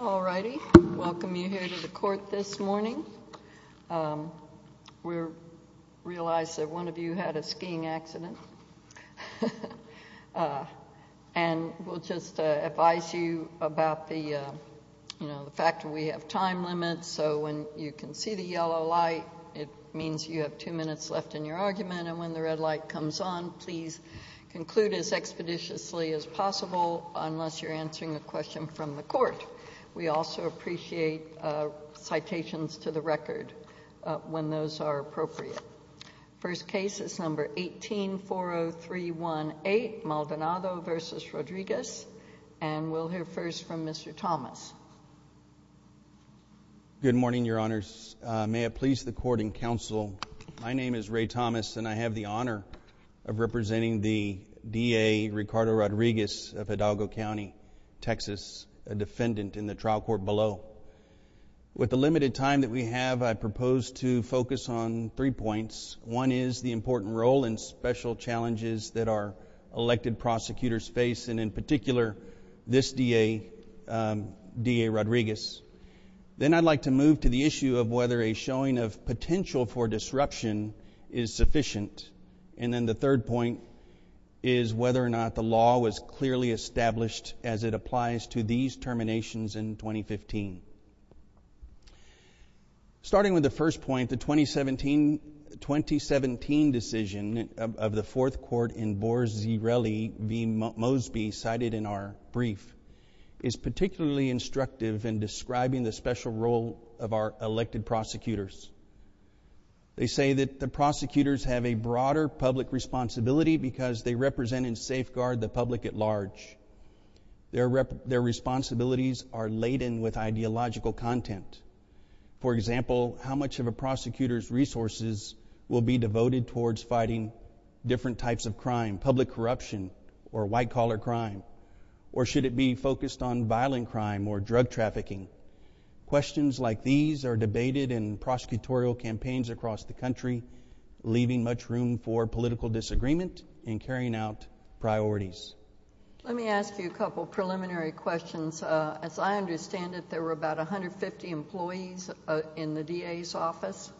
All righty, welcome you here to the court this morning. We realize that one of you had a skiing accident. We'll just advise you about the fact that we have time limits so when you can see the yellow light, it means you have two minutes left in your argument and when the red light comes on, please conclude as expeditiously as possible unless you're answering a question from the court. We also appreciate citations to the record when those are appropriate. First case is number 1840318, Maldonado v. Rodriguez and we'll hear first from Mr. Thomas. Good morning, Your Honors. May it please the Court and Counsel, my name is Ray Thomas and I have the honor of representing the DA, Ricardo Rodriguez of Hidalgo County, Texas, a defendant in the trial court below. With the limited time that we have, I propose to focus on three points. One is the important role and special challenges that our elected prosecutors face and in particular this DA, DA Rodriguez. Then I'd like to move to the issue of whether a showing of potential for disruption is sufficient and then the third point is whether or not the law was clearly established as it applies to these terminations in 2015. Starting with the first point, the 2017 decision of the Fourth Court in Borzirelli v. Mosby cited in our brief is particularly instructive in describing the special role of our elected prosecutors. They say that the prosecutors have a broader public responsibility because they represent and safeguard the public at large. Their responsibilities are laden with ideological content. For example, how much of a prosecutor's resources will be devoted towards fighting different types of crime, public corruption or white collar crime or should it be focused on violent crime or drug trafficking? Questions like these are debated in prosecutorial campaigns across the country, leaving much room for political disagreement and carrying out priorities. Let me ask you a couple of preliminary questions. As I understand it, there were about 150 employees in the DA's office?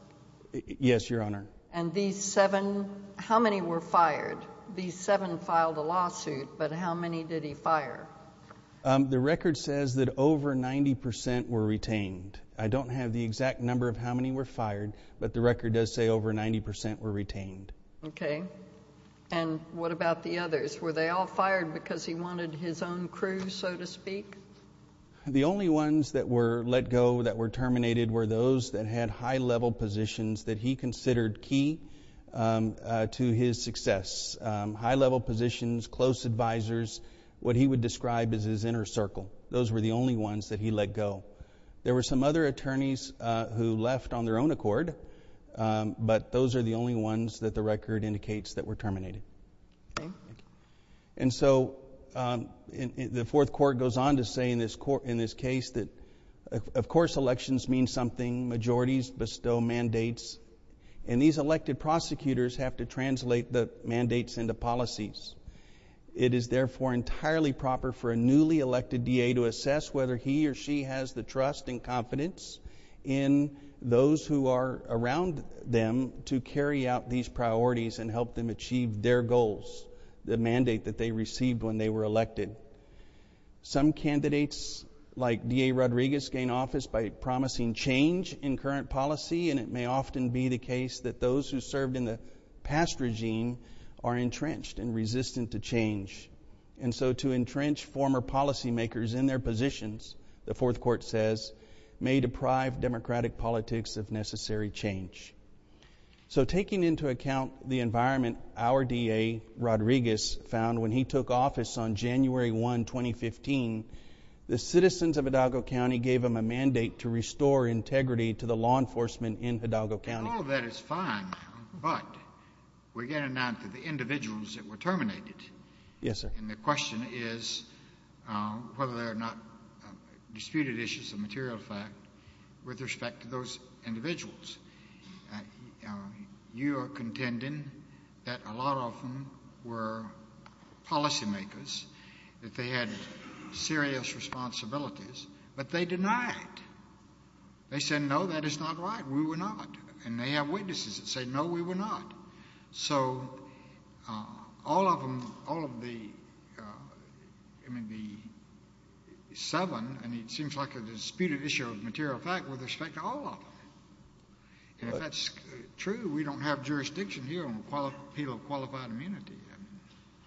Yes, Your Honor. And these seven, how many were fired? These seven filed a lawsuit but how many did he fire? The record says that over 90% were retained. I don't have the exact number of how many were fired but the record does say over 90% were retained. Okay. And what about the others? Were they all fired because he wanted his own crew, so to speak? The only ones that were let go, that were terminated, were those that had high level positions that he considered key to his success. High level positions, close advisors, what he would describe as his inner circle. Those were the only ones that he let go. There were some other attorneys who left on their own accord but those are the only ones that the record indicates that were terminated. And so, the Fourth Court goes on to say in this case that of course elections mean something, majorities bestow mandates, and these elected prosecutors have to translate the mandates into policies. It is therefore entirely proper for a newly elected DA to assess whether he or she has the trust and confidence in those who are around them to carry out these priorities and help them achieve their goals, the mandate that they received when they were elected. Some candidates like DA Rodriguez gain office by promising change in current policy and it may often be the case that those who served in the past regime are entrenched and resistant to change. And so, to entrench former policy makers in their positions, the Fourth Court says, may deprive democratic politics of necessary change. So taking into account the environment our DA Rodriguez found when he took office on January 1, 2015, the citizens of Hidalgo County gave him a mandate to restore integrity to the law enforcement in Hidalgo County. And all of that is fine but we're getting down to the individuals that were terminated. Yes, sir. And the question is whether they're not disputed issues of material fact with respect to those individuals. You are contending that a lot of them were policy makers, that they had serious responsibilities, but they denied. They said, no, that is not right, we were not. And they have witnesses that say, no, we were not. So all of them, all of the, I mean, the seven, and it seems like a disputed issue of material fact with respect to all of them. And if that's true, we don't have jurisdiction here on the appeal of qualified immunity.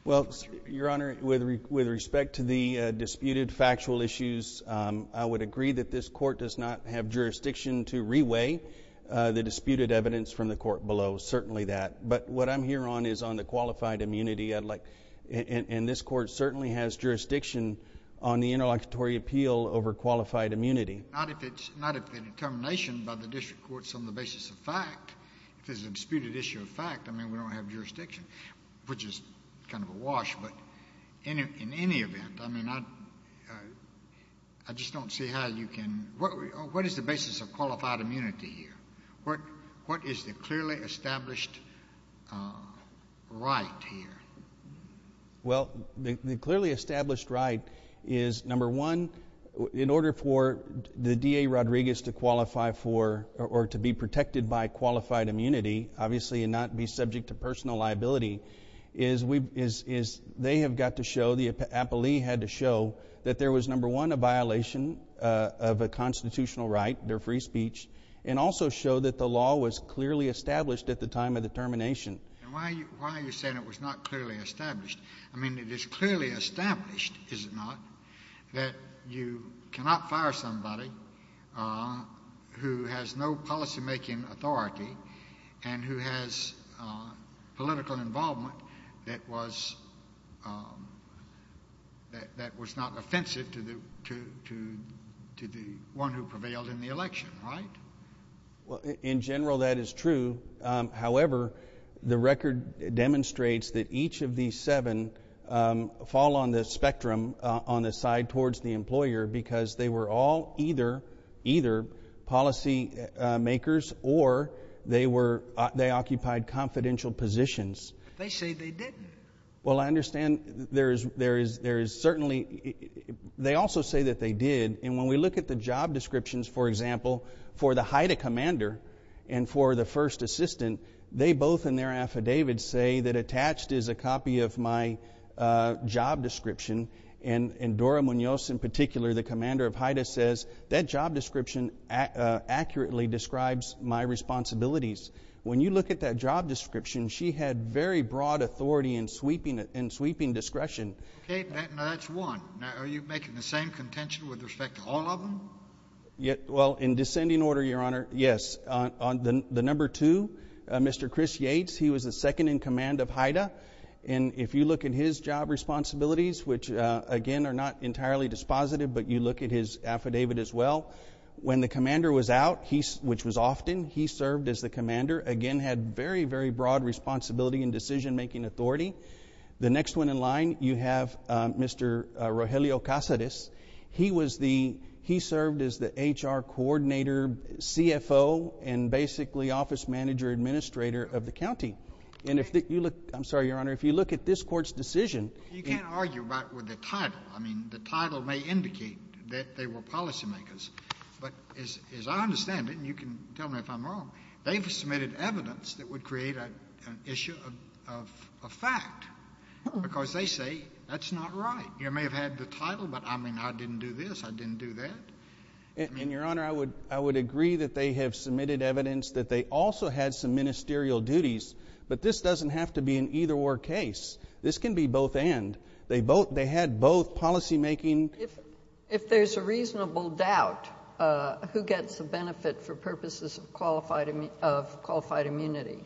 Well, your Honor, with respect to the disputed factual issues, I would agree that this Court does not have jurisdiction to re-weigh the disputed evidence from the Court below. Certainly that. But what I'm here on is on the qualified immunity. And this Court certainly has jurisdiction on the interlocutory appeal over qualified immunity. Not if it's, not if the determination by the District Court is on the basis of fact. If it's a disputed issue of fact, I mean, we don't have jurisdiction. Which is kind of a wash, but in any event, I mean, I just don't see how you can, what is the basis of qualified immunity here? What is the clearly established right here? Well, the clearly established right is, number one, in order for the DA Rodriguez to qualify for, or to be protected by qualified immunity, obviously and not be subject to personal liability, is they have got to show, the appellee had to show, that there was, number one, a violation of a constitutional right, their free speech, and also show that the law was clearly established at the time of the termination. And why are you saying it was not clearly established? I mean, it is clearly established, is it not, that you cannot fire somebody who has no policymaking authority and who has political involvement that was not offensive to the one who prevailed in the election, right? In general, that is true, however, the record demonstrates that each of these seven fall on the spectrum, on the side towards the employer, because they were all either policy makers or they occupied confidential positions. They say they didn't. Well, I understand there is certainly, they also say that they did, and when we look at the job descriptions, for example, for the HIDTA commander and for the first assistant, they both in their affidavits say that attached is a copy of my job description, and Dora Munoz in particular, the commander of HIDTA, says that job description accurately describes my responsibilities. When you look at that job description, she had very broad authority and sweeping discretion. Okay, now that's one. Now, are you making the same contention with respect to all of them? Well, in descending order, Your Honor, yes. The number two, Mr. Chris Yates, he was the second in command of HIDTA, and if you look at his job responsibilities, which, again, are not entirely dispositive, but you look at his affidavit as well, when the commander was out, which was often, he served as the commander. Again, had very, very broad responsibility and decision-making authority. The next one in line, you have Mr. Rogelio Casades. He was the, he served as the HR coordinator, CFO, and basically office manager administrator of the county. And if you look, I'm sorry, Your Honor, if you look at this court's decision... They were policy makers, but as I understand it, and you can tell me if I'm wrong, they've submitted evidence that would create an issue of fact, because they say, that's not right. You may have had the title, but I mean, I didn't do this, I didn't do that. And Your Honor, I would agree that they have submitted evidence that they also had some ministerial duties, but this doesn't have to be an either-or case. This can be both-and. They had both policy-making... If there's a reasonable doubt, who gets the benefit for purposes of qualified immunity?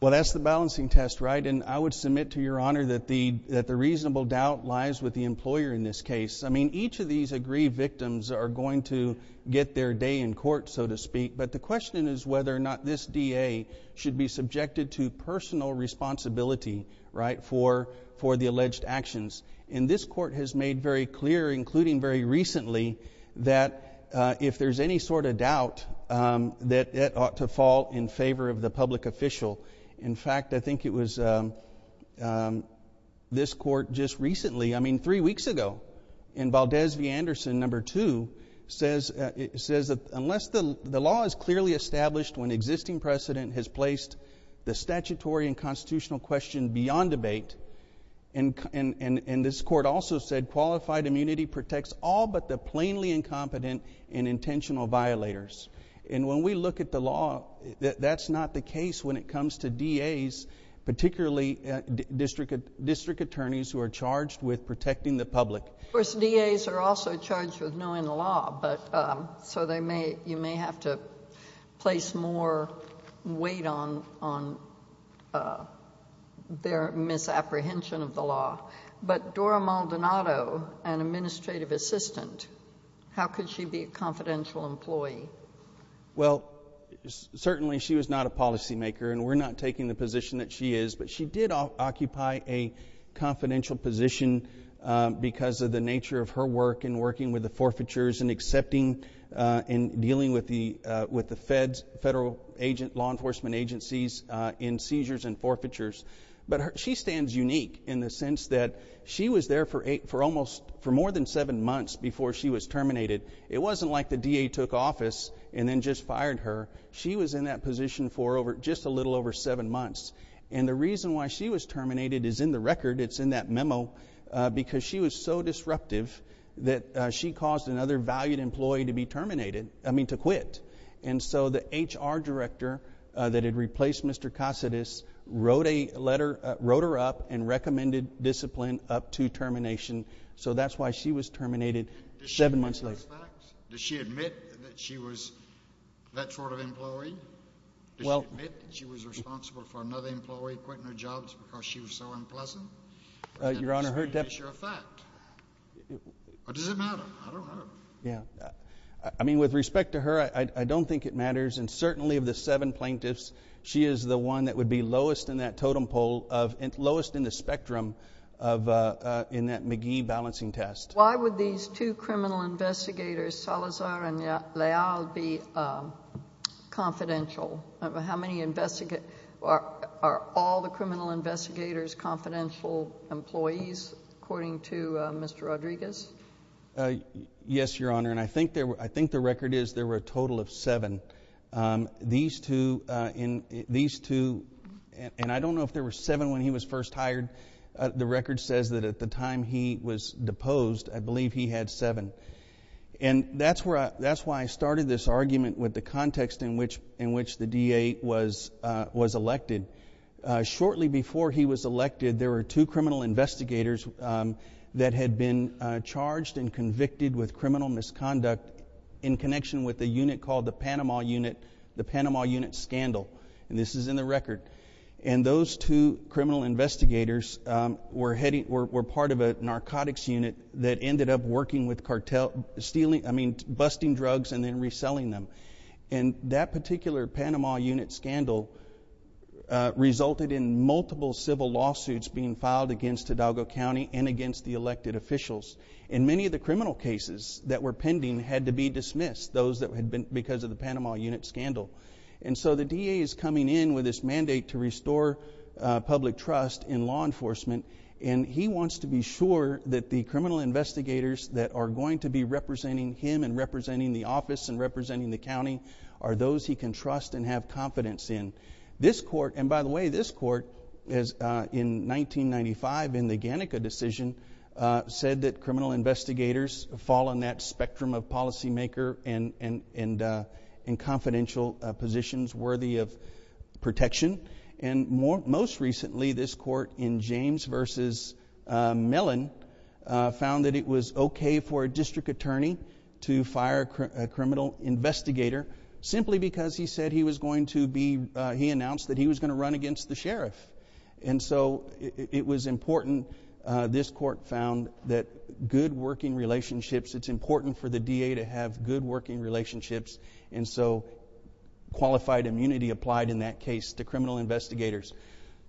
Well, that's the balancing test, right? And I would submit to Your Honor that the reasonable doubt lies with the employer in this case. I mean, each of these aggrieved victims are going to get their day in court, so to speak, but the question is whether or not this DA should be subjected to personal responsibility, right, for the alleged actions. And this Court has made very clear, including very recently, that if there's any sort of doubt, that it ought to fall in favor of the public official. In fact, I think it was this Court just recently, I mean, three weeks ago, in Valdez v. Anderson, number two, says that unless the law is clearly established when existing precedent has placed the statutory and constitutional question beyond debate, and this Court also said qualified immunity protects all but the plainly incompetent and intentional violators. And when we look at the law, that's not the case when it comes to DAs, particularly district attorneys who are charged with protecting the public. Of course, DAs are also charged with knowing the law, so you may have to place more weight on their misapprehension of the law. But Dora Maldonado, an administrative assistant, how could she be a confidential employee? Well, certainly she was not a policymaker, and we're not taking the position that she is, but she did occupy a confidential position because of the nature of her work in working with the forfeitures and accepting and dealing with the feds, federal law enforcement agencies in seizures and forfeitures. But she stands unique in the sense that she was there for more than seven months before she was terminated. It wasn't like the DA took office and then just fired her. She was in that position for just a little over seven months, and the reason why she was terminated is in the record. It's in that memo, because she was so disruptive that she caused another valued employee to be terminated, I mean to quit. And so the HR director that had replaced Mr. Casades wrote a letter, wrote her up and recommended discipline up to termination. So that's why she was terminated seven months later. Does she admit that she was that sort of employee? Does she admit that she was responsible for another employee quitting her jobs because she was so unpleasant? Your Honor, her def... Is that a sure fact? Or does it matter? I don't know. Yeah. I mean, with respect to her, I don't think it matters. And certainly of the seven plaintiffs, she is the one that would be lowest in that totem pole of, lowest in the spectrum of, in that McGee balancing test. Why would these two criminal investigators, Salazar and Leal, be confidential? How many investigate... Are all the criminal investigators confidential employees, according to Mr. Rodriguez? Yes, Your Honor, and I think the record is there were a total of seven. These two, and I don't know if there were seven when he was first hired. The record says that at the time he was deposed, I believe he had seven. And that's where I, that's why I started this argument with the context in which, in which the DA was, was elected. Shortly before he was elected, there were two criminal investigators that had been charged and convicted with criminal misconduct in connection with a unit called the Panama Unit, the Panama Unit Scandal, and this is in the record. And those two criminal investigators were heading, were part of a narcotics unit that ended up working with cartel, stealing, I mean, busting drugs and then reselling them. And that particular Panama Unit Scandal resulted in multiple civil lawsuits being filed against Hidalgo County and against the elected officials. And many of the criminal cases that were pending had to be dismissed, those that had been because of the Panama Unit Scandal. And so the DA is coming in with this mandate to restore public trust in law enforcement and he wants to be sure that the criminal investigators that are going to be representing him and representing the office and representing the county are those he can trust and have confidence in. This court, and by the way, this court is, in 1995, in the Gannica decision, said that it was okay for a district attorney to fire a criminal investigator simply because he said he was going to be, he announced that he was going to run against the sheriff. And so it was important, this court found, that good working relationships, it's important for the DA to have good working relationships. And so qualified immunity applied in that case to criminal investigators.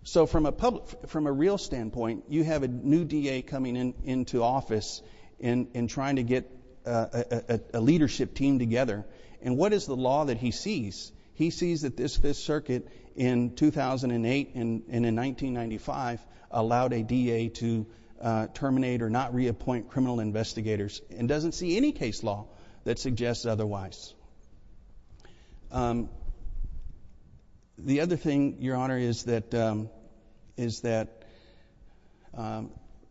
So from a public, from a real standpoint, you have a new DA coming into office and trying to get a leadership team together. And what is the law that he sees? He sees that this circuit in 2008 and in 1995 allowed a DA to terminate or not reappoint criminal investigators and doesn't see any case law that suggests otherwise. The other thing, Your Honor, is that, is that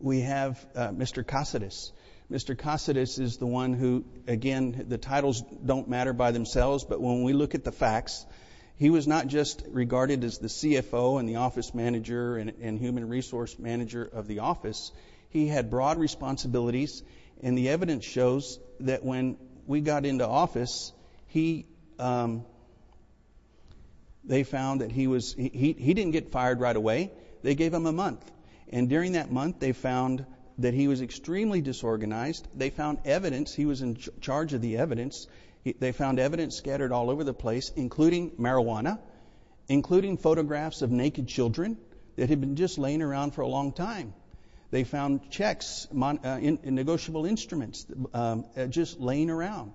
we have Mr. Casades. Mr. Casades is the one who, again, the titles don't matter by themselves, but when we look at the facts, he was not just regarded as the CFO and the office manager and human resource manager of the office. He had broad responsibilities and the evidence shows that when we got into office, he, um, they found that he was, he didn't get fired right away, they gave him a month. And during that month, they found that he was extremely disorganized. They found evidence, he was in charge of the evidence, they found evidence scattered all over the place, including marijuana, including photographs of naked children that had been just laying around for a long time. They found checks, negotiable instruments, just laying around.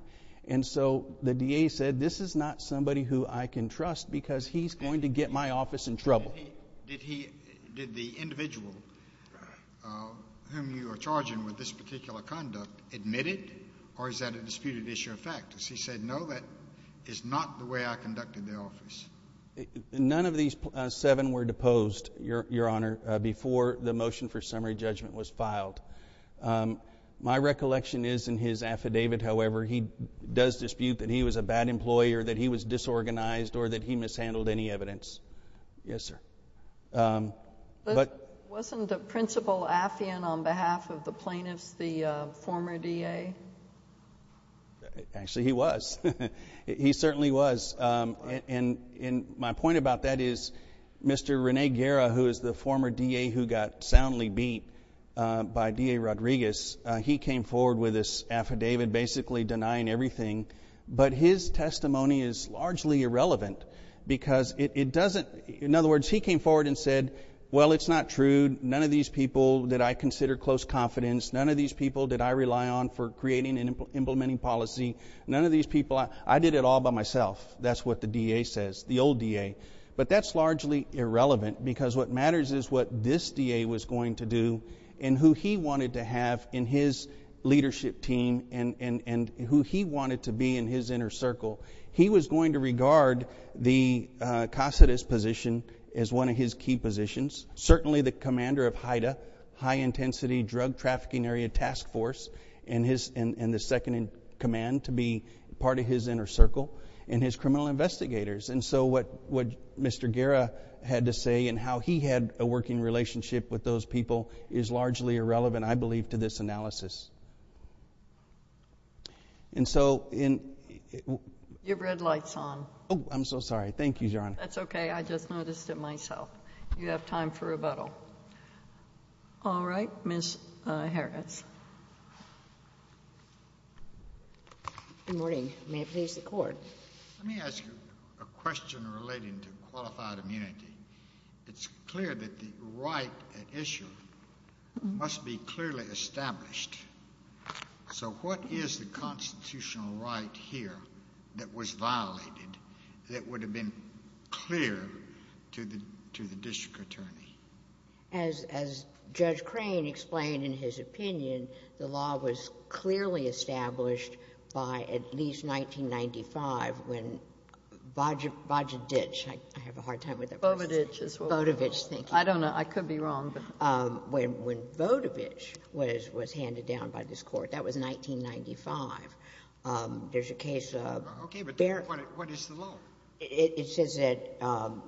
And so the DA said, this is not somebody who I can trust because he's going to get my office in trouble. Did he, did the individual whom you are charging with this particular conduct admit it or is that a disputed issue of fact? Because he said, no, that is not the way I conducted the office. None of these seven were deposed, Your Honor, before the motion for summary judgment was filed. My recollection is in his affidavit, however, he does dispute that he was a bad employer, that he was disorganized or that he mishandled any evidence. Yes, sir. But wasn't the principal affiant on behalf of the plaintiffs, the former DA? Actually he was. He certainly was. And my point about that is Mr. Rene Guerra, who is the former DA who got soundly beat by DA Rodriguez, he came forward with this affidavit basically denying everything. But his testimony is largely irrelevant because it doesn't, in other words, he came forward and said, well, it's not true. None of these people did I consider close confidence. None of these people did I rely on for creating and implementing policy. None of these people, I did it all by myself. That's what the DA says, the old DA. But that's largely irrelevant because what matters is what this DA was going to do and who he wanted to have in his leadership team and who he wanted to be in his inner circle. He was going to regard the Caceres position as one of his key positions. Certainly the commander of HIDA, High Intensity Drug Trafficking Area Task Force, and the second in command to be part of his inner circle and his criminal investigators. And so what Mr. Guerra had to say and how he had a working relationship with those people is largely irrelevant, I believe, to this analysis. And so in... Your red light's on. Oh, I'm so sorry. Thank you, Your Honor. I just noticed it myself. You have time for rebuttal. All right, Ms. Harris. Good morning. May it please the Court. Let me ask you a question relating to qualified immunity. It's clear that the right at issue must be clearly established. So what is the constitutional right here that was violated that would have been clear to the district attorney? As Judge Crane explained in his opinion, the law was clearly established by at least 1995 when Bodevich... I have a hard time with that person. Bodevich as well. Bodevich, thank you. I don't know. I could be wrong, but... When Bodevich was handed down by this Court, that was 1995. There's a case... Okay, but what is the law? It says that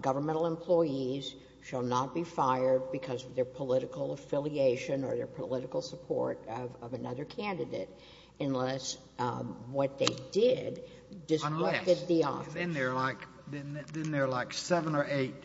governmental employees shall not be fired because of their political affiliation or their political support of another candidate unless what they did... Unless.... disrupted the office. Then there are like seven or eight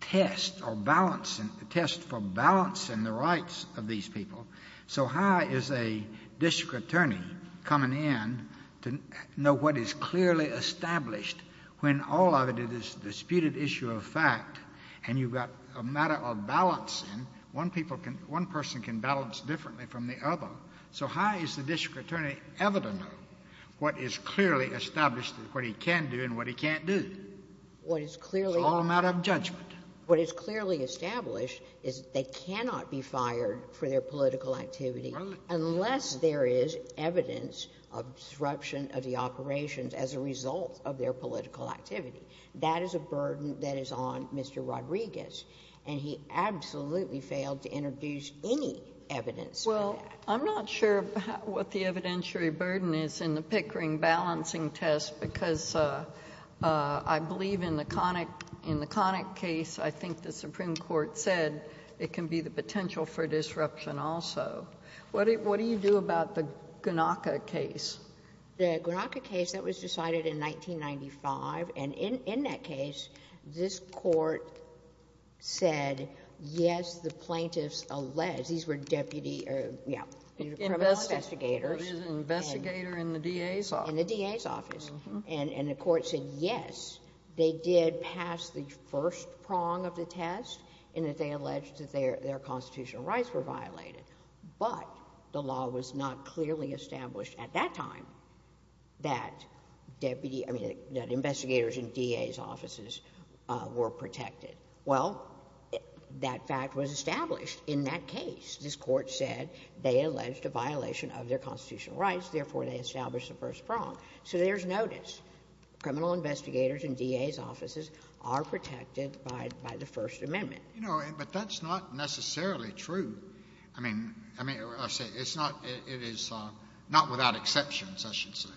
tests or balancing... tests for balancing the rights of these people. So how is a district attorney coming in to know what is clearly established when all of it is a disputed issue of fact and you've got a matter of balancing? One person can balance differently from the other. So how is the district attorney ever to know what is clearly established and what he can do and what he can't do? What is clearly... It's all a matter of judgment. What is clearly established is they cannot be fired for their political activity... Right.... unless there is evidence of disruption of the operations as a result of their political activity. That is a burden that is on Mr. Rodriguez, and he absolutely failed to introduce any evidence for that. Well, I'm not sure what the evidentiary burden is in the Pickering balancing test because I believe in the Connick case, I think the Supreme Court said it can be the potential for disruption also. What do you do about the Gnocca case? The Gnocca case, that was decided in 1995, and in that case, this court said, yes, the plaintiffs alleged... These were deputy... Investigators. In the DA's office. And the court said, yes, they did pass the first prong of the test and that they alleged that their constitutional rights were violated, but the law was not clearly established at that time that investigators in DA's offices were protected. Well, that fact was established in that case. This court said they alleged a violation of their constitutional rights, therefore they established the first prong. So there's notice. Criminal investigators in DA's offices are protected by the First Amendment. You know, but that's not necessarily true. I mean, it is not without exceptions, I should say.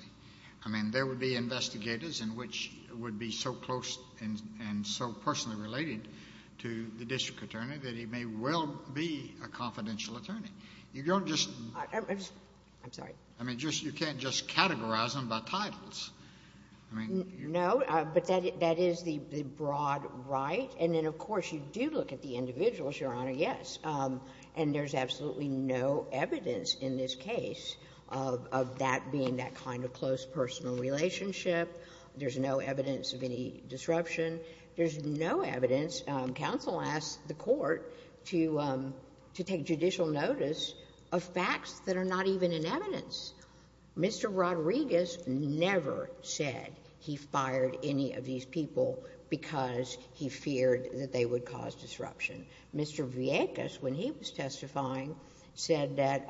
I mean, there would be investigators in which it would be so close and so personally related to the district attorney that he may well be a confidential attorney. You don't just... I'm sorry. I mean, you can't just categorize them by titles. I mean... No, but that is the broad right. And then, of course, you do look at the individuals, Your Honor, yes. And there's absolutely no evidence in this case of that being that kind of close personal relationship. There's no evidence of any disruption. There's no evidence. Counsel asked the court to take judicial notice of facts that are not even in evidence. Mr. Rodriguez never said he fired any of these people because he feared that they would cause disruption. Mr. Villegas, when he was testifying, said that,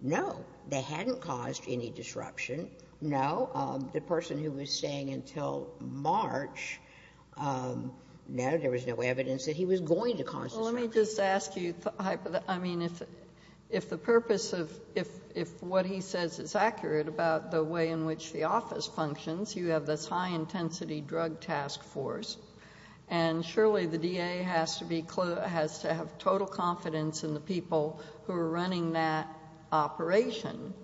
no, they hadn't caused any disruption. No, the person who was staying until March, no, there was no evidence that he was going to cause disruption. Well, let me just ask you... I mean, if the purpose of... if what he says is accurate about the way in which the office functions, you have this high intensity drug task force, and surely the DA has to have total confidence in the people who are running that operation.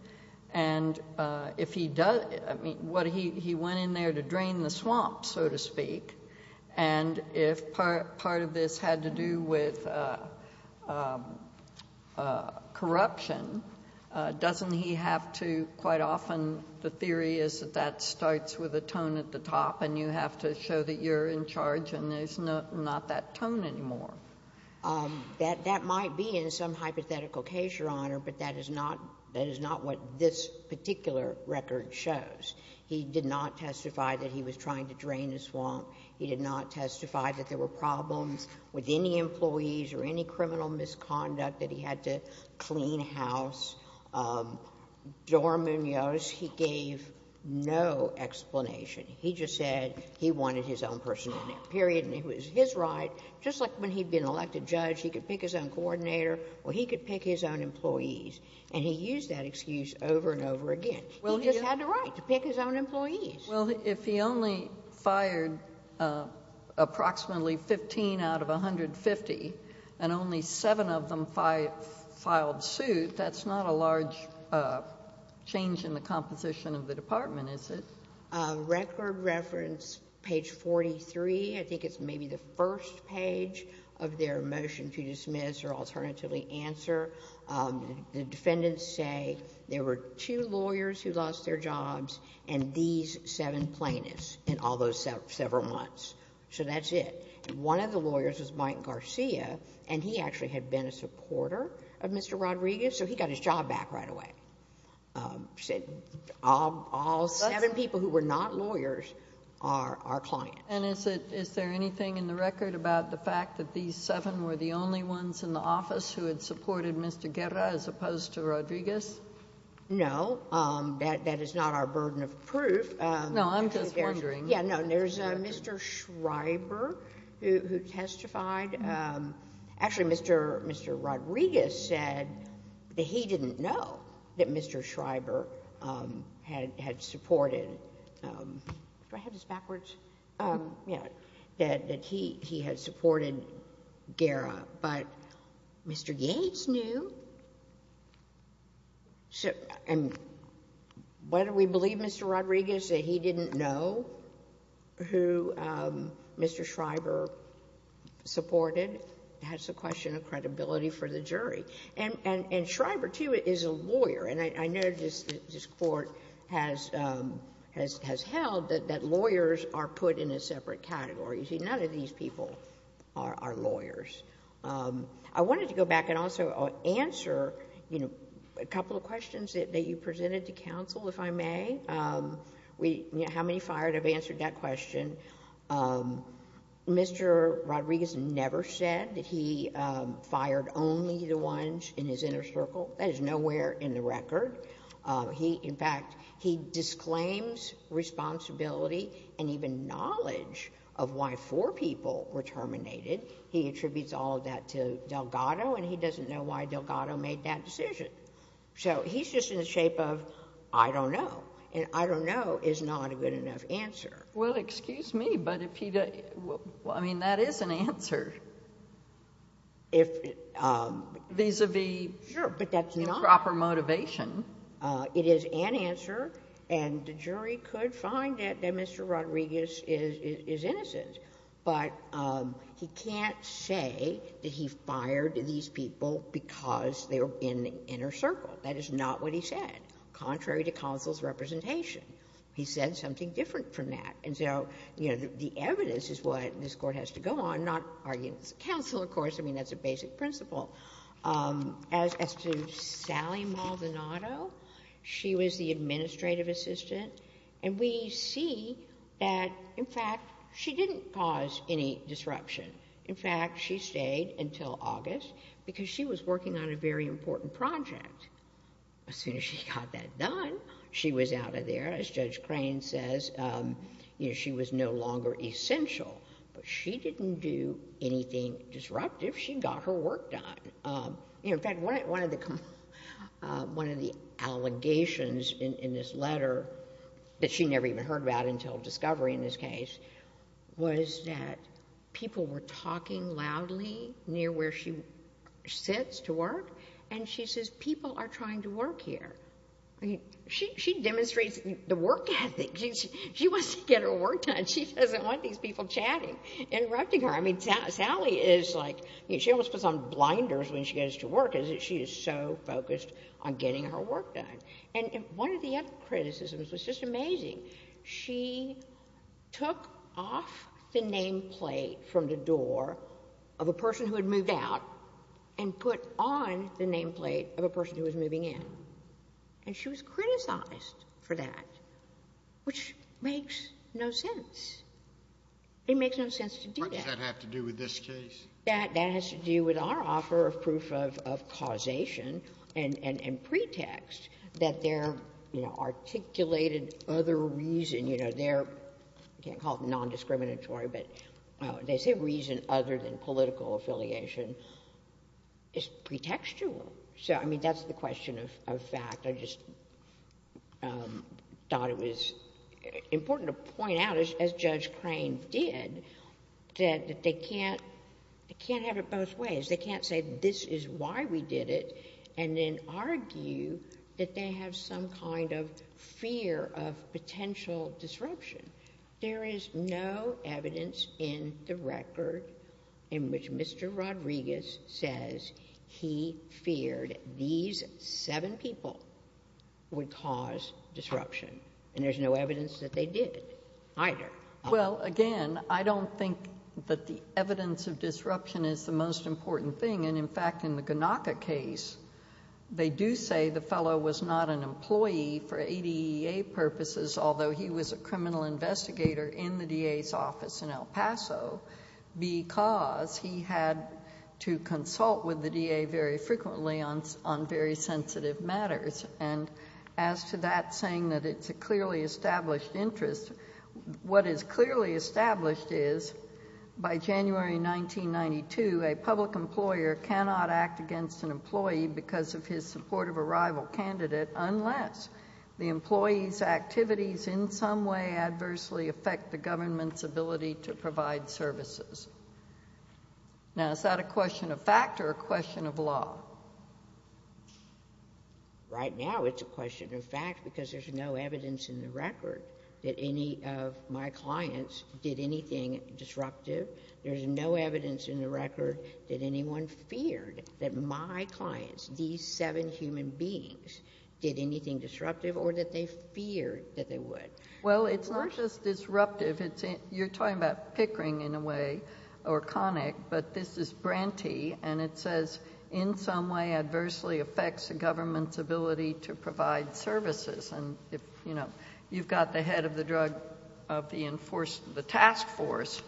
And if he does... I mean, he went in there to drain the swamp, so to speak. And if part of this had to do with corruption, doesn't he have to... quite often, the theory is that that starts with a tone at the top, and you have to show that you're in charge, and there's not that tone anymore. That might be in some hypothetical case, Your Honor, but that is not what this particular record shows. He did not testify that he was trying to drain the swamp. He did not testify that there were problems with any employees or any criminal misconduct that he had to clean house. Dora Munoz, he gave no explanation. He just said he wanted his own person in it, period, and it was his right, just like when he'd been elected judge, he could pick his own coordinator, or he could pick his own employees. And he used that excuse over and over again. He just had the right to pick his own employees. Judge Sotomayor. Well, if he only fired approximately fifteen out of a hundred fifty, and only seven of them filed suit, that's not a large change in the composition of the department, is it? Dora Munoz. Record reference, page forty-three. I think it's maybe the first page of their motion to dismiss or alternatively answer. The defendants say there were two lawyers who lost their jobs and these seven plaintiffs in all those several months. So that's it. One of the lawyers was Mike Garcia, and he actually had been a supporter of Mr. Rodriguez, so he got his job back right away. All seven people who were not lawyers are our clients. And is there anything in the record about the fact that these seven were the only ones in the office who had supported Mr. Guerra as opposed to Rodriguez? No. That is not our burden of proof. No, I'm just wondering. There's Mr. Schreiber who testified. Actually, Mr. Rodriguez said that he didn't know that Mr. Schreiber had supported Guerra, but Mr. Gates knew. Why do we believe Mr. Rodriguez that he didn't know who Mr. Schreiber supported? That's a question of credibility for the jury. And Schreiber, too, is a lawyer, and I know this Court has held that lawyers are put in a separate category. You see, none of these people are lawyers. I wanted to go back and also answer, you know, a couple of questions that you presented to counsel, if I may. How many fired have answered that question? Mr. Rodriguez never said that he fired only the ones in his inner circle. That is nowhere in the record. In fact, he disclaims responsibility and even knowledge of why four people were terminated. He attributes all of that to Delgado, and he doesn't know why Delgado made that decision. So he's just in the shape of, I don't know. And I don't know is not a good enough answer. Well, excuse me, but if he... I mean, that is an answer vis-à-vis improper motivation. It is an answer, and the jury could find that Mr. Rodriguez is innocent. But he can't say that he fired these people because they were in the inner circle. That is not what he said, contrary to counsel's representation. He said something different from that. And so, you know, the evidence is what this Court has to go on, not arguments of counsel, of course. I mean, that's a basic principle. As to Sally Maldonado, she was the administrative assistant, and we see that, in fact, she didn't cause any disruption. In fact, she stayed until August because she was working on a very important project. As soon as she got that done, she was out of there. As Judge Crane says, you know, she was no longer essential, but she didn't do anything disruptive. She got her work done. In fact, one of the allegations in this letter that she never even heard about until discovery in this case was that people were talking loudly near where she sits to work, and she says, people are trying to work here. She demonstrates the work ethic. She wants to get her work done. She doesn't want these people chatting, interrupting her. I mean, Sally is like, she almost puts on blinders when she goes to work because she is so focused on getting her work done. And one of the other criticisms was just amazing. She took off the nameplate from the door of a person who had moved out and put on the nameplate of a person who was moving in, and she was criticized for that, which makes no sense. It makes no sense to do that. What does that have to do with this case? That has to do with our offer of proof of causation and pretext that their articulated other reason, you know, their... you can't call it non-discriminatory, but they say reason other than political affiliation is pretextual. So, I mean, that's the question of fact. I just thought it was important to point out, as Judge Crane did, that they can't have it both ways. They can't say, this is why we did it, and then argue that they have some kind of fear of potential disruption. There is no evidence in the record in which Mr. Rodriguez says he feared these seven people would cause disruption, and there's no evidence that they did either. Well, again, I don't think that the evidence of disruption is the most important thing, and in fact, in the Gnocca case, they do say the fellow was not an employee for ADEA purposes, although he was a criminal investigator in the DA's office in El Paso, because he had to consult with the DA very frequently on very sensitive matters. And as to that saying that it's a clearly established interest, what is clearly established is by January 1992, a public employer cannot act against an employee because of his support of a rival candidate unless the employee's activities in some way adversely affect the government's ability to provide services. Now, is that a question of fact or a question of law? Right now it's a question of fact because there's no evidence in the record that any of my clients did anything disruptive. There's no evidence in the record that anyone feared that my clients, these seven human beings, did anything disruptive or that they feared that they would. Well, it's not just disruptive. You're talking about pickering in a way, or conic, but this is branty, and it says in some way adversely affects the government's ability to provide services. And, you know, you've got the head of the task force,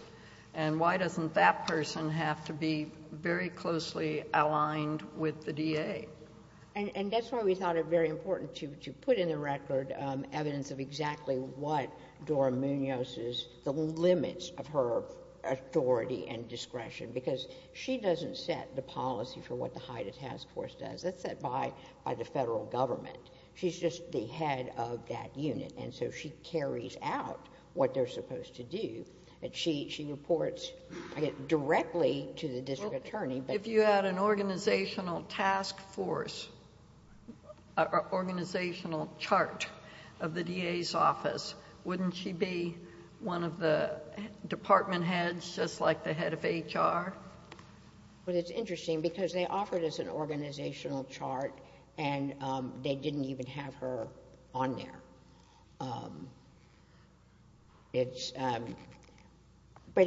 and why doesn't that person have to be very closely aligned with the DA? And that's why we thought it very important to put in the record evidence of exactly what Dora Munoz's, the limits of her authority and discretion, because she doesn't set the policy for what the Haida task force does. That's set by the federal government. She's just the head of that unit, and so she carries out what they're supposed to do. She reports directly to the district attorney. If you had an organizational task force, an organizational chart of the DA's office, wouldn't she be one of the department heads, just like the head of HR? Well, it's interesting, because they offered us an organizational chart, and they didn't even have her on there. But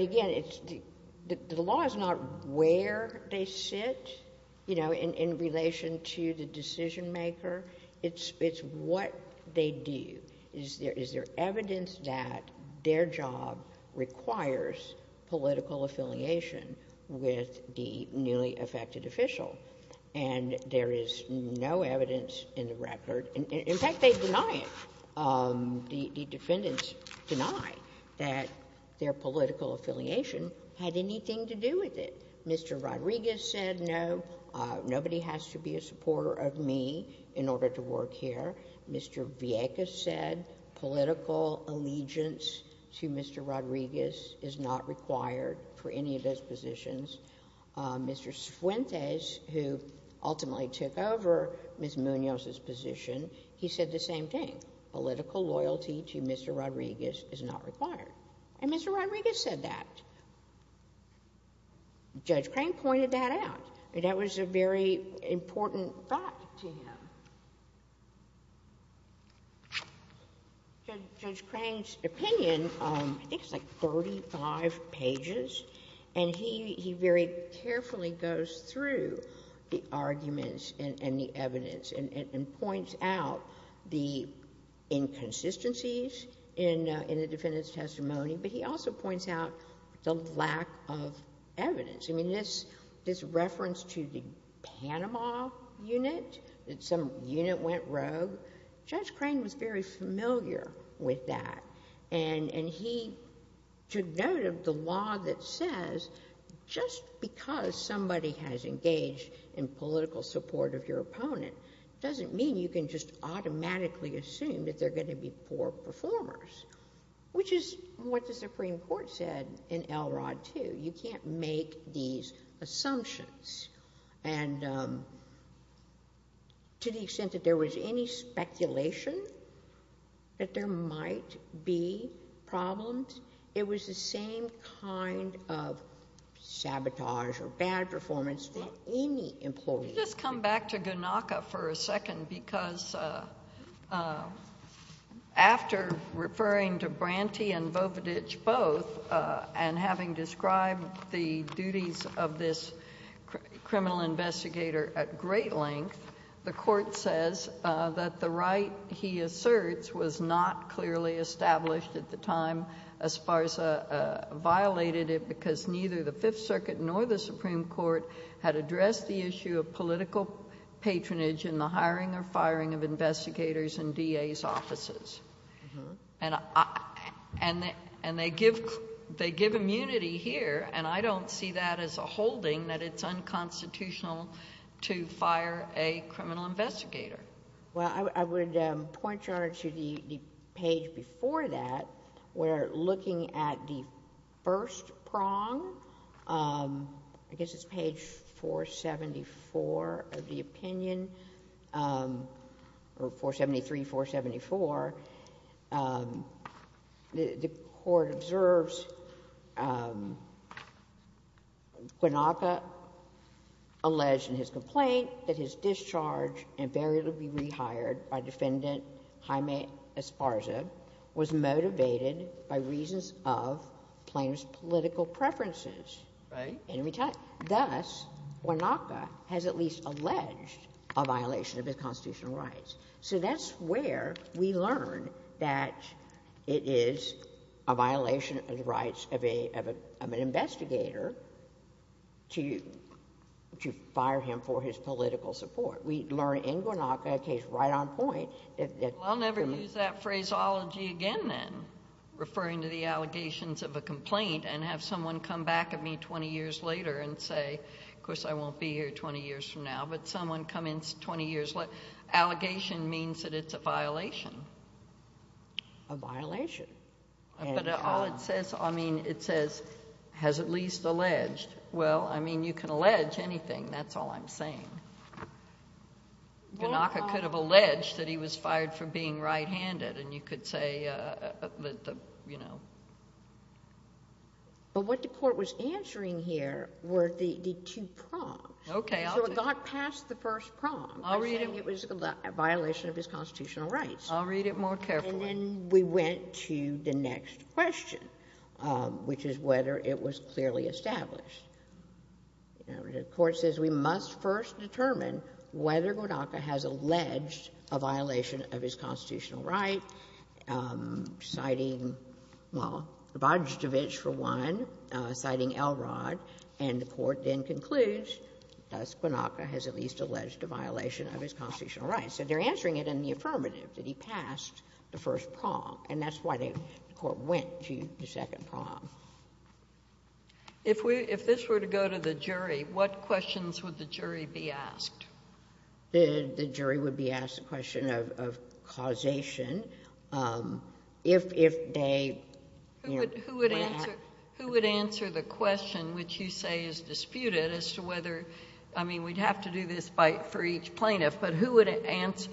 again, the law is not where they sit, you know, in relation to the decision maker. It's what they do. Is there evidence that their job requires political affiliation with the newly affected official? And there is no evidence in the record. In fact, they deny it. The defendants deny that their political affiliation had anything to do with it. Mr. Rodriguez said, no, nobody has to be a supporter of me in order to work here. Mr. Vieques said political allegiance to Mr. Rodriguez is not required for any of those positions. Mr. Fuentes, who ultimately took over Ms. Munoz's position, he said the same thing. Political loyalty to Mr. Rodriguez is not required. And Mr. Rodriguez said that. Judge Crane pointed that out. That was a very important thought to him. Judge Crane's opinion, I think it's like 35 pages, and he very carefully goes through the arguments and the evidence and points out the inconsistencies in the defendant's testimony, but he also points out the lack of evidence. I mean, this reference to the Panama unit, that some unit went rogue, Judge Crane was very familiar with that, and he took note of the law that says just because somebody has engaged in political support of your opponent doesn't mean you can just automatically assume that they're going to be poor performers, which is what the Supreme Court said in LROD 2. You can't make these assumptions. And to the extent that there was any speculation that there might be problems, it was the same kind of sabotage or bad performance that any employee would do. Just come back to Gnocca for a second, because after referring to Branty and Vovedich both and having described the duties of this criminal investigator at great length, the Court says that the right he asserts which was not clearly established at the time as far as violated it because neither the Fifth Circuit nor the Supreme Court had addressed the issue of political patronage in the hiring or firing of investigators in DA's offices. And they give immunity here, and I don't see that as a holding that it's unconstitutional to fire a criminal investigator. Well, I would point you on to the page before that where looking at the first prong, I guess it's page 474 of the opinion, or 473, 474, the Court observes Gnocca alleged in his complaint that his discharge and failure to be rehired by Defendant Jaime Esparza was motivated by reasons of plaintiff's political preferences. Thus, Gnocca has at least alleged a violation of his constitutional rights. So that's where we learn that it is a violation of the rights of an investigator to fire him for his political support. We learn in Gnocca, a case right on point... Well, I'll never use that phraseology again then, referring to the allegations of a complaint and have someone come back at me 20 years later and say, of course I won't be here 20 years from now, but someone come in 20 years... Allegation means that it's a violation. A violation. But it says, I mean, it says, has at least alleged. Well, I mean, you can allege anything. That's all I'm saying. Gnocca could have alleged that he was fired for being right-handed, and you could say, you know... But what the Court was answering here were the two prongs. Okay, I'll do... So it got past the first prong. It was a violation of his constitutional rights. I'll read it more carefully. And then we went to the next question, which is whether it was clearly established. The Court says, we must first determine whether Gnocca has alleged a violation of his constitutional right, citing, well, Vojticevic for one, citing Elrod, and the Court then concludes, thus Gnocca has at least alleged a violation of his constitutional rights. So they're answering it in the affirmative, that he passed the first prong, and that's why the Court went to the second prong. If this were to go to the jury, what questions would the jury be asked? The jury would be asked the question of causation. If they... Who would answer the question, which you say is disputed, as to whether... I mean, we'd have to do this for each plaintiff, but who would answer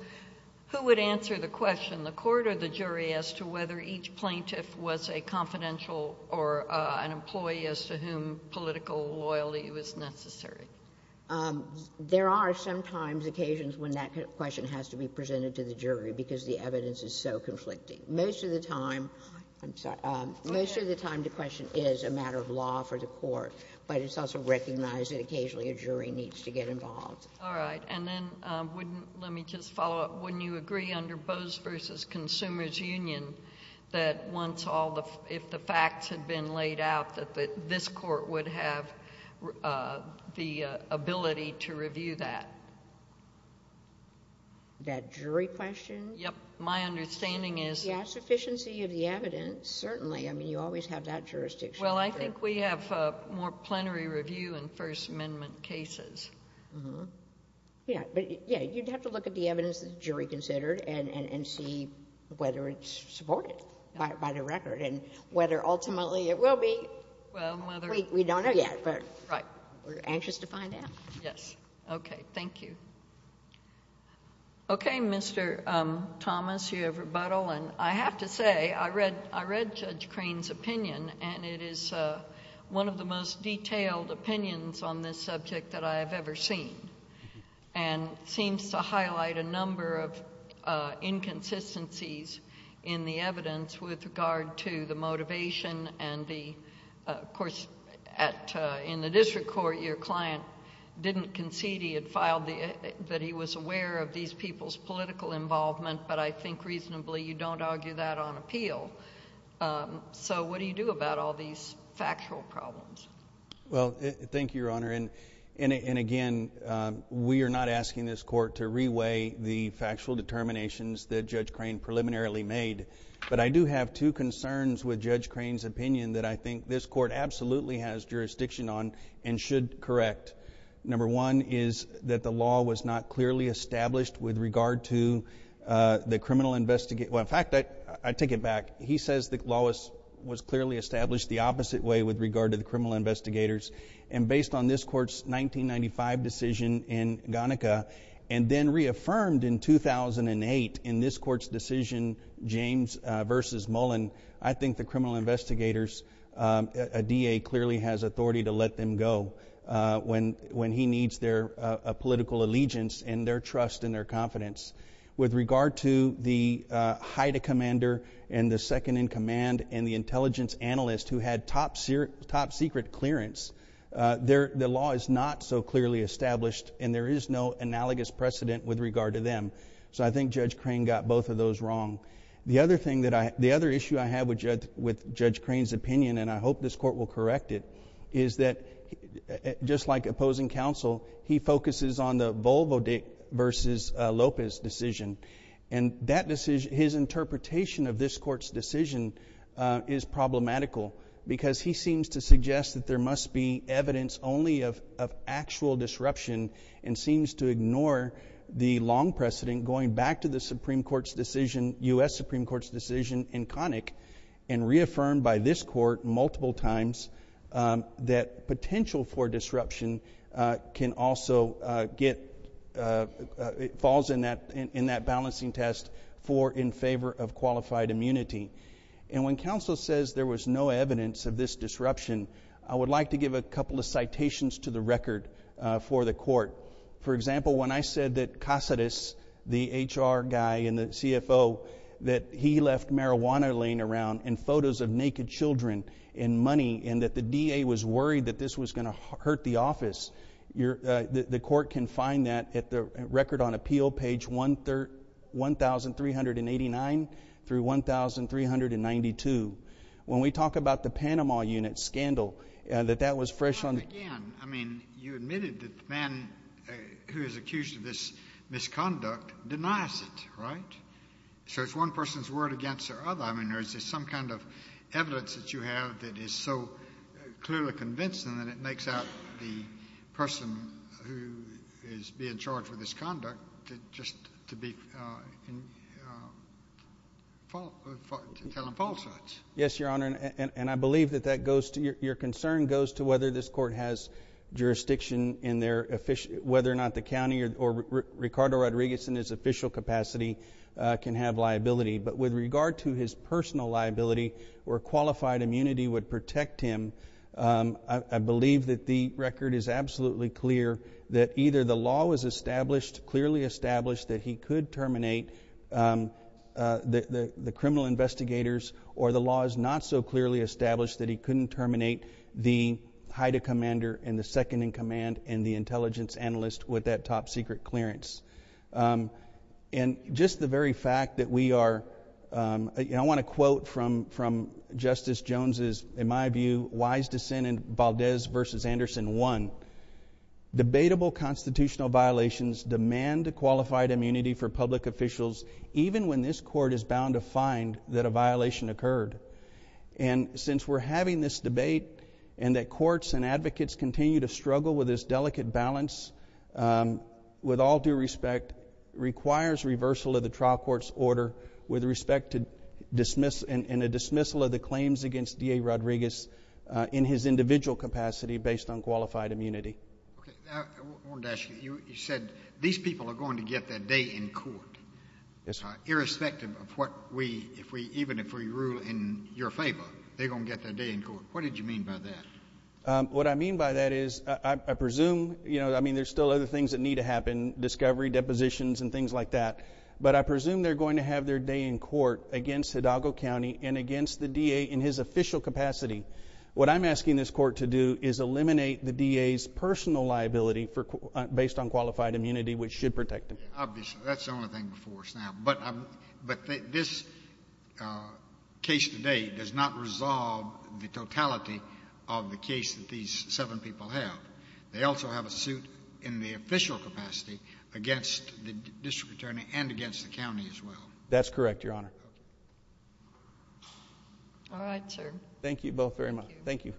the question, the Court or the jury, as to whether each plaintiff was a confidential or an employee as to whom political loyalty was necessary? There are sometimes occasions when that question has to be presented to the jury because the evidence is so conflicting. Most of the time... I'm sorry. Most of the time the question is a matter of law for the Court, but it's also recognized that occasionally a jury needs to get involved. All right. Then let me just follow up. Wouldn't you agree under Bose v. Consumers Union that if the facts had been laid out, that this Court would have the ability to review that? That jury question? Yes. My understanding is... Yes, sufficiency of the evidence, certainly. I mean, you always have that jurisdiction. Well, I think we have more plenary review in First Amendment cases. Yes, but you'd have to look at the evidence the jury considered and see whether it's supported by the record and whether ultimately it will be. We don't know yet, but we're anxious to find out. Yes. Okay. Thank you. Okay, Mr. Thomas, you have rebuttal. I have to say, I read Judge Crane's opinion, and it is one of the most detailed opinions on this subject that I have ever seen, and seems to highlight a number of inconsistencies in the evidence with regard to the motivation and the... Of course, in the district court, your client didn't concede he had filed... that he was aware of these people's political involvement, but I think reasonably you don't argue that on appeal. So, what do you do about all these factual problems? Well, thank you, Your Honor, and again, we are not asking this court to reweigh the factual determinations that Judge Crane preliminarily made, but I do have two concerns with Judge Crane's opinion that I think this court absolutely has jurisdiction on and should correct. Number one is that the law was not clearly established with regard to the criminal... Well, in fact, I take it back. He says the law was clearly established the opposite way with regard to the criminal investigators, and based on this court's 1995 decision in Gonnica and then reaffirmed in 2008 in this court's decision, James v. Mullen, I think the criminal investigators' DA clearly has authority to let them go when he needs their political allegiance and their trust and their confidence. With regard to the Haida commander and the second-in-command and the intelligence analyst who had top-secret clearance, the law is not so clearly established and there is no analogous precedent with regard to them. So, I think Judge Crane got both of those wrong. The other issue I have with Judge Crane's opinion, and I hope this court will correct it, is that just like opposing counsel, he focuses on the Volvo v. Lopez decision, and his interpretation of this court's decision is problematical because he seems to suggest that there must be evidence only of actual disruption and seems to ignore the long precedent going back to the Supreme Court's decision, U.S. Supreme Court's decision in Connick, and reaffirmed by this court multiple times that potential for disruption falls in that balancing test for in favor of qualified immunity. And when counsel says there was no evidence of this disruption, I would like to give a couple of citations to the record for the court. For example, when I said that Casades, the HR guy and the CFO, that he left marijuana laying around and photos of naked children and money and that the DA was worried that this was going to hurt the office, the court can find that at the record on appeal, page 1389 through 1392. When we talk about the Panama Unit scandal, that that was fresh on the table. Well, again, I mean, you admitted that the man who is accused of this misconduct denies it, right? So it's one person's word against another. I mean, is there some kind of evidence that you have that is so clearly convincing that it makes out the person who is being charged with this conduct just to be telling falsehoods? Yes, Your Honor, and I believe that that goes to— your concern goes to whether this court has jurisdiction in their— whether or not the county or Ricardo Rodriguez in his official capacity can have liability. But with regard to his personal liability or qualified immunity would protect him, I believe that the record is absolutely clear that either the law was established, clearly established that he could terminate the criminal investigators, or the law is not so clearly established that he couldn't terminate the HIDTA commander and the second-in-command and the intelligence analyst with that top-secret clearance. And just the very fact that we are—I want to quote from Justice Jones's, in my view, wise dissent in Valdez v. Anderson 1, debatable constitutional violations demand a qualified immunity for public officials even when this court is bound to find that a violation occurred. And since we're having this debate and that courts and advocates continue to struggle with this delicate balance, with all due respect, requires reversal of the trial court's order with respect to dismiss— and a dismissal of the claims against D.A. Rodriguez in his individual capacity based on qualified immunity. Okay. I wanted to ask you, you said these people are going to get their day in court. Yes, Your Honor. Irrespective of what we—even if we rule in your favor, they're going to get their day in court. What did you mean by that? What I mean by that is, I presume—I mean, there's still other things that need to happen, discovery, depositions, and things like that. But I presume they're going to have their day in court against Hidalgo County and against the D.A. in his official capacity. What I'm asking this court to do is eliminate the D.A.'s personal liability based on qualified immunity, which should protect him. Obviously. That's the only thing before us now. But this case today does not resolve the totality of the case that these seven people have. They also have a suit in the official capacity against the district attorney and against the county as well. That's correct, Your Honor. All right, sir. Thank you both very much. Thank you.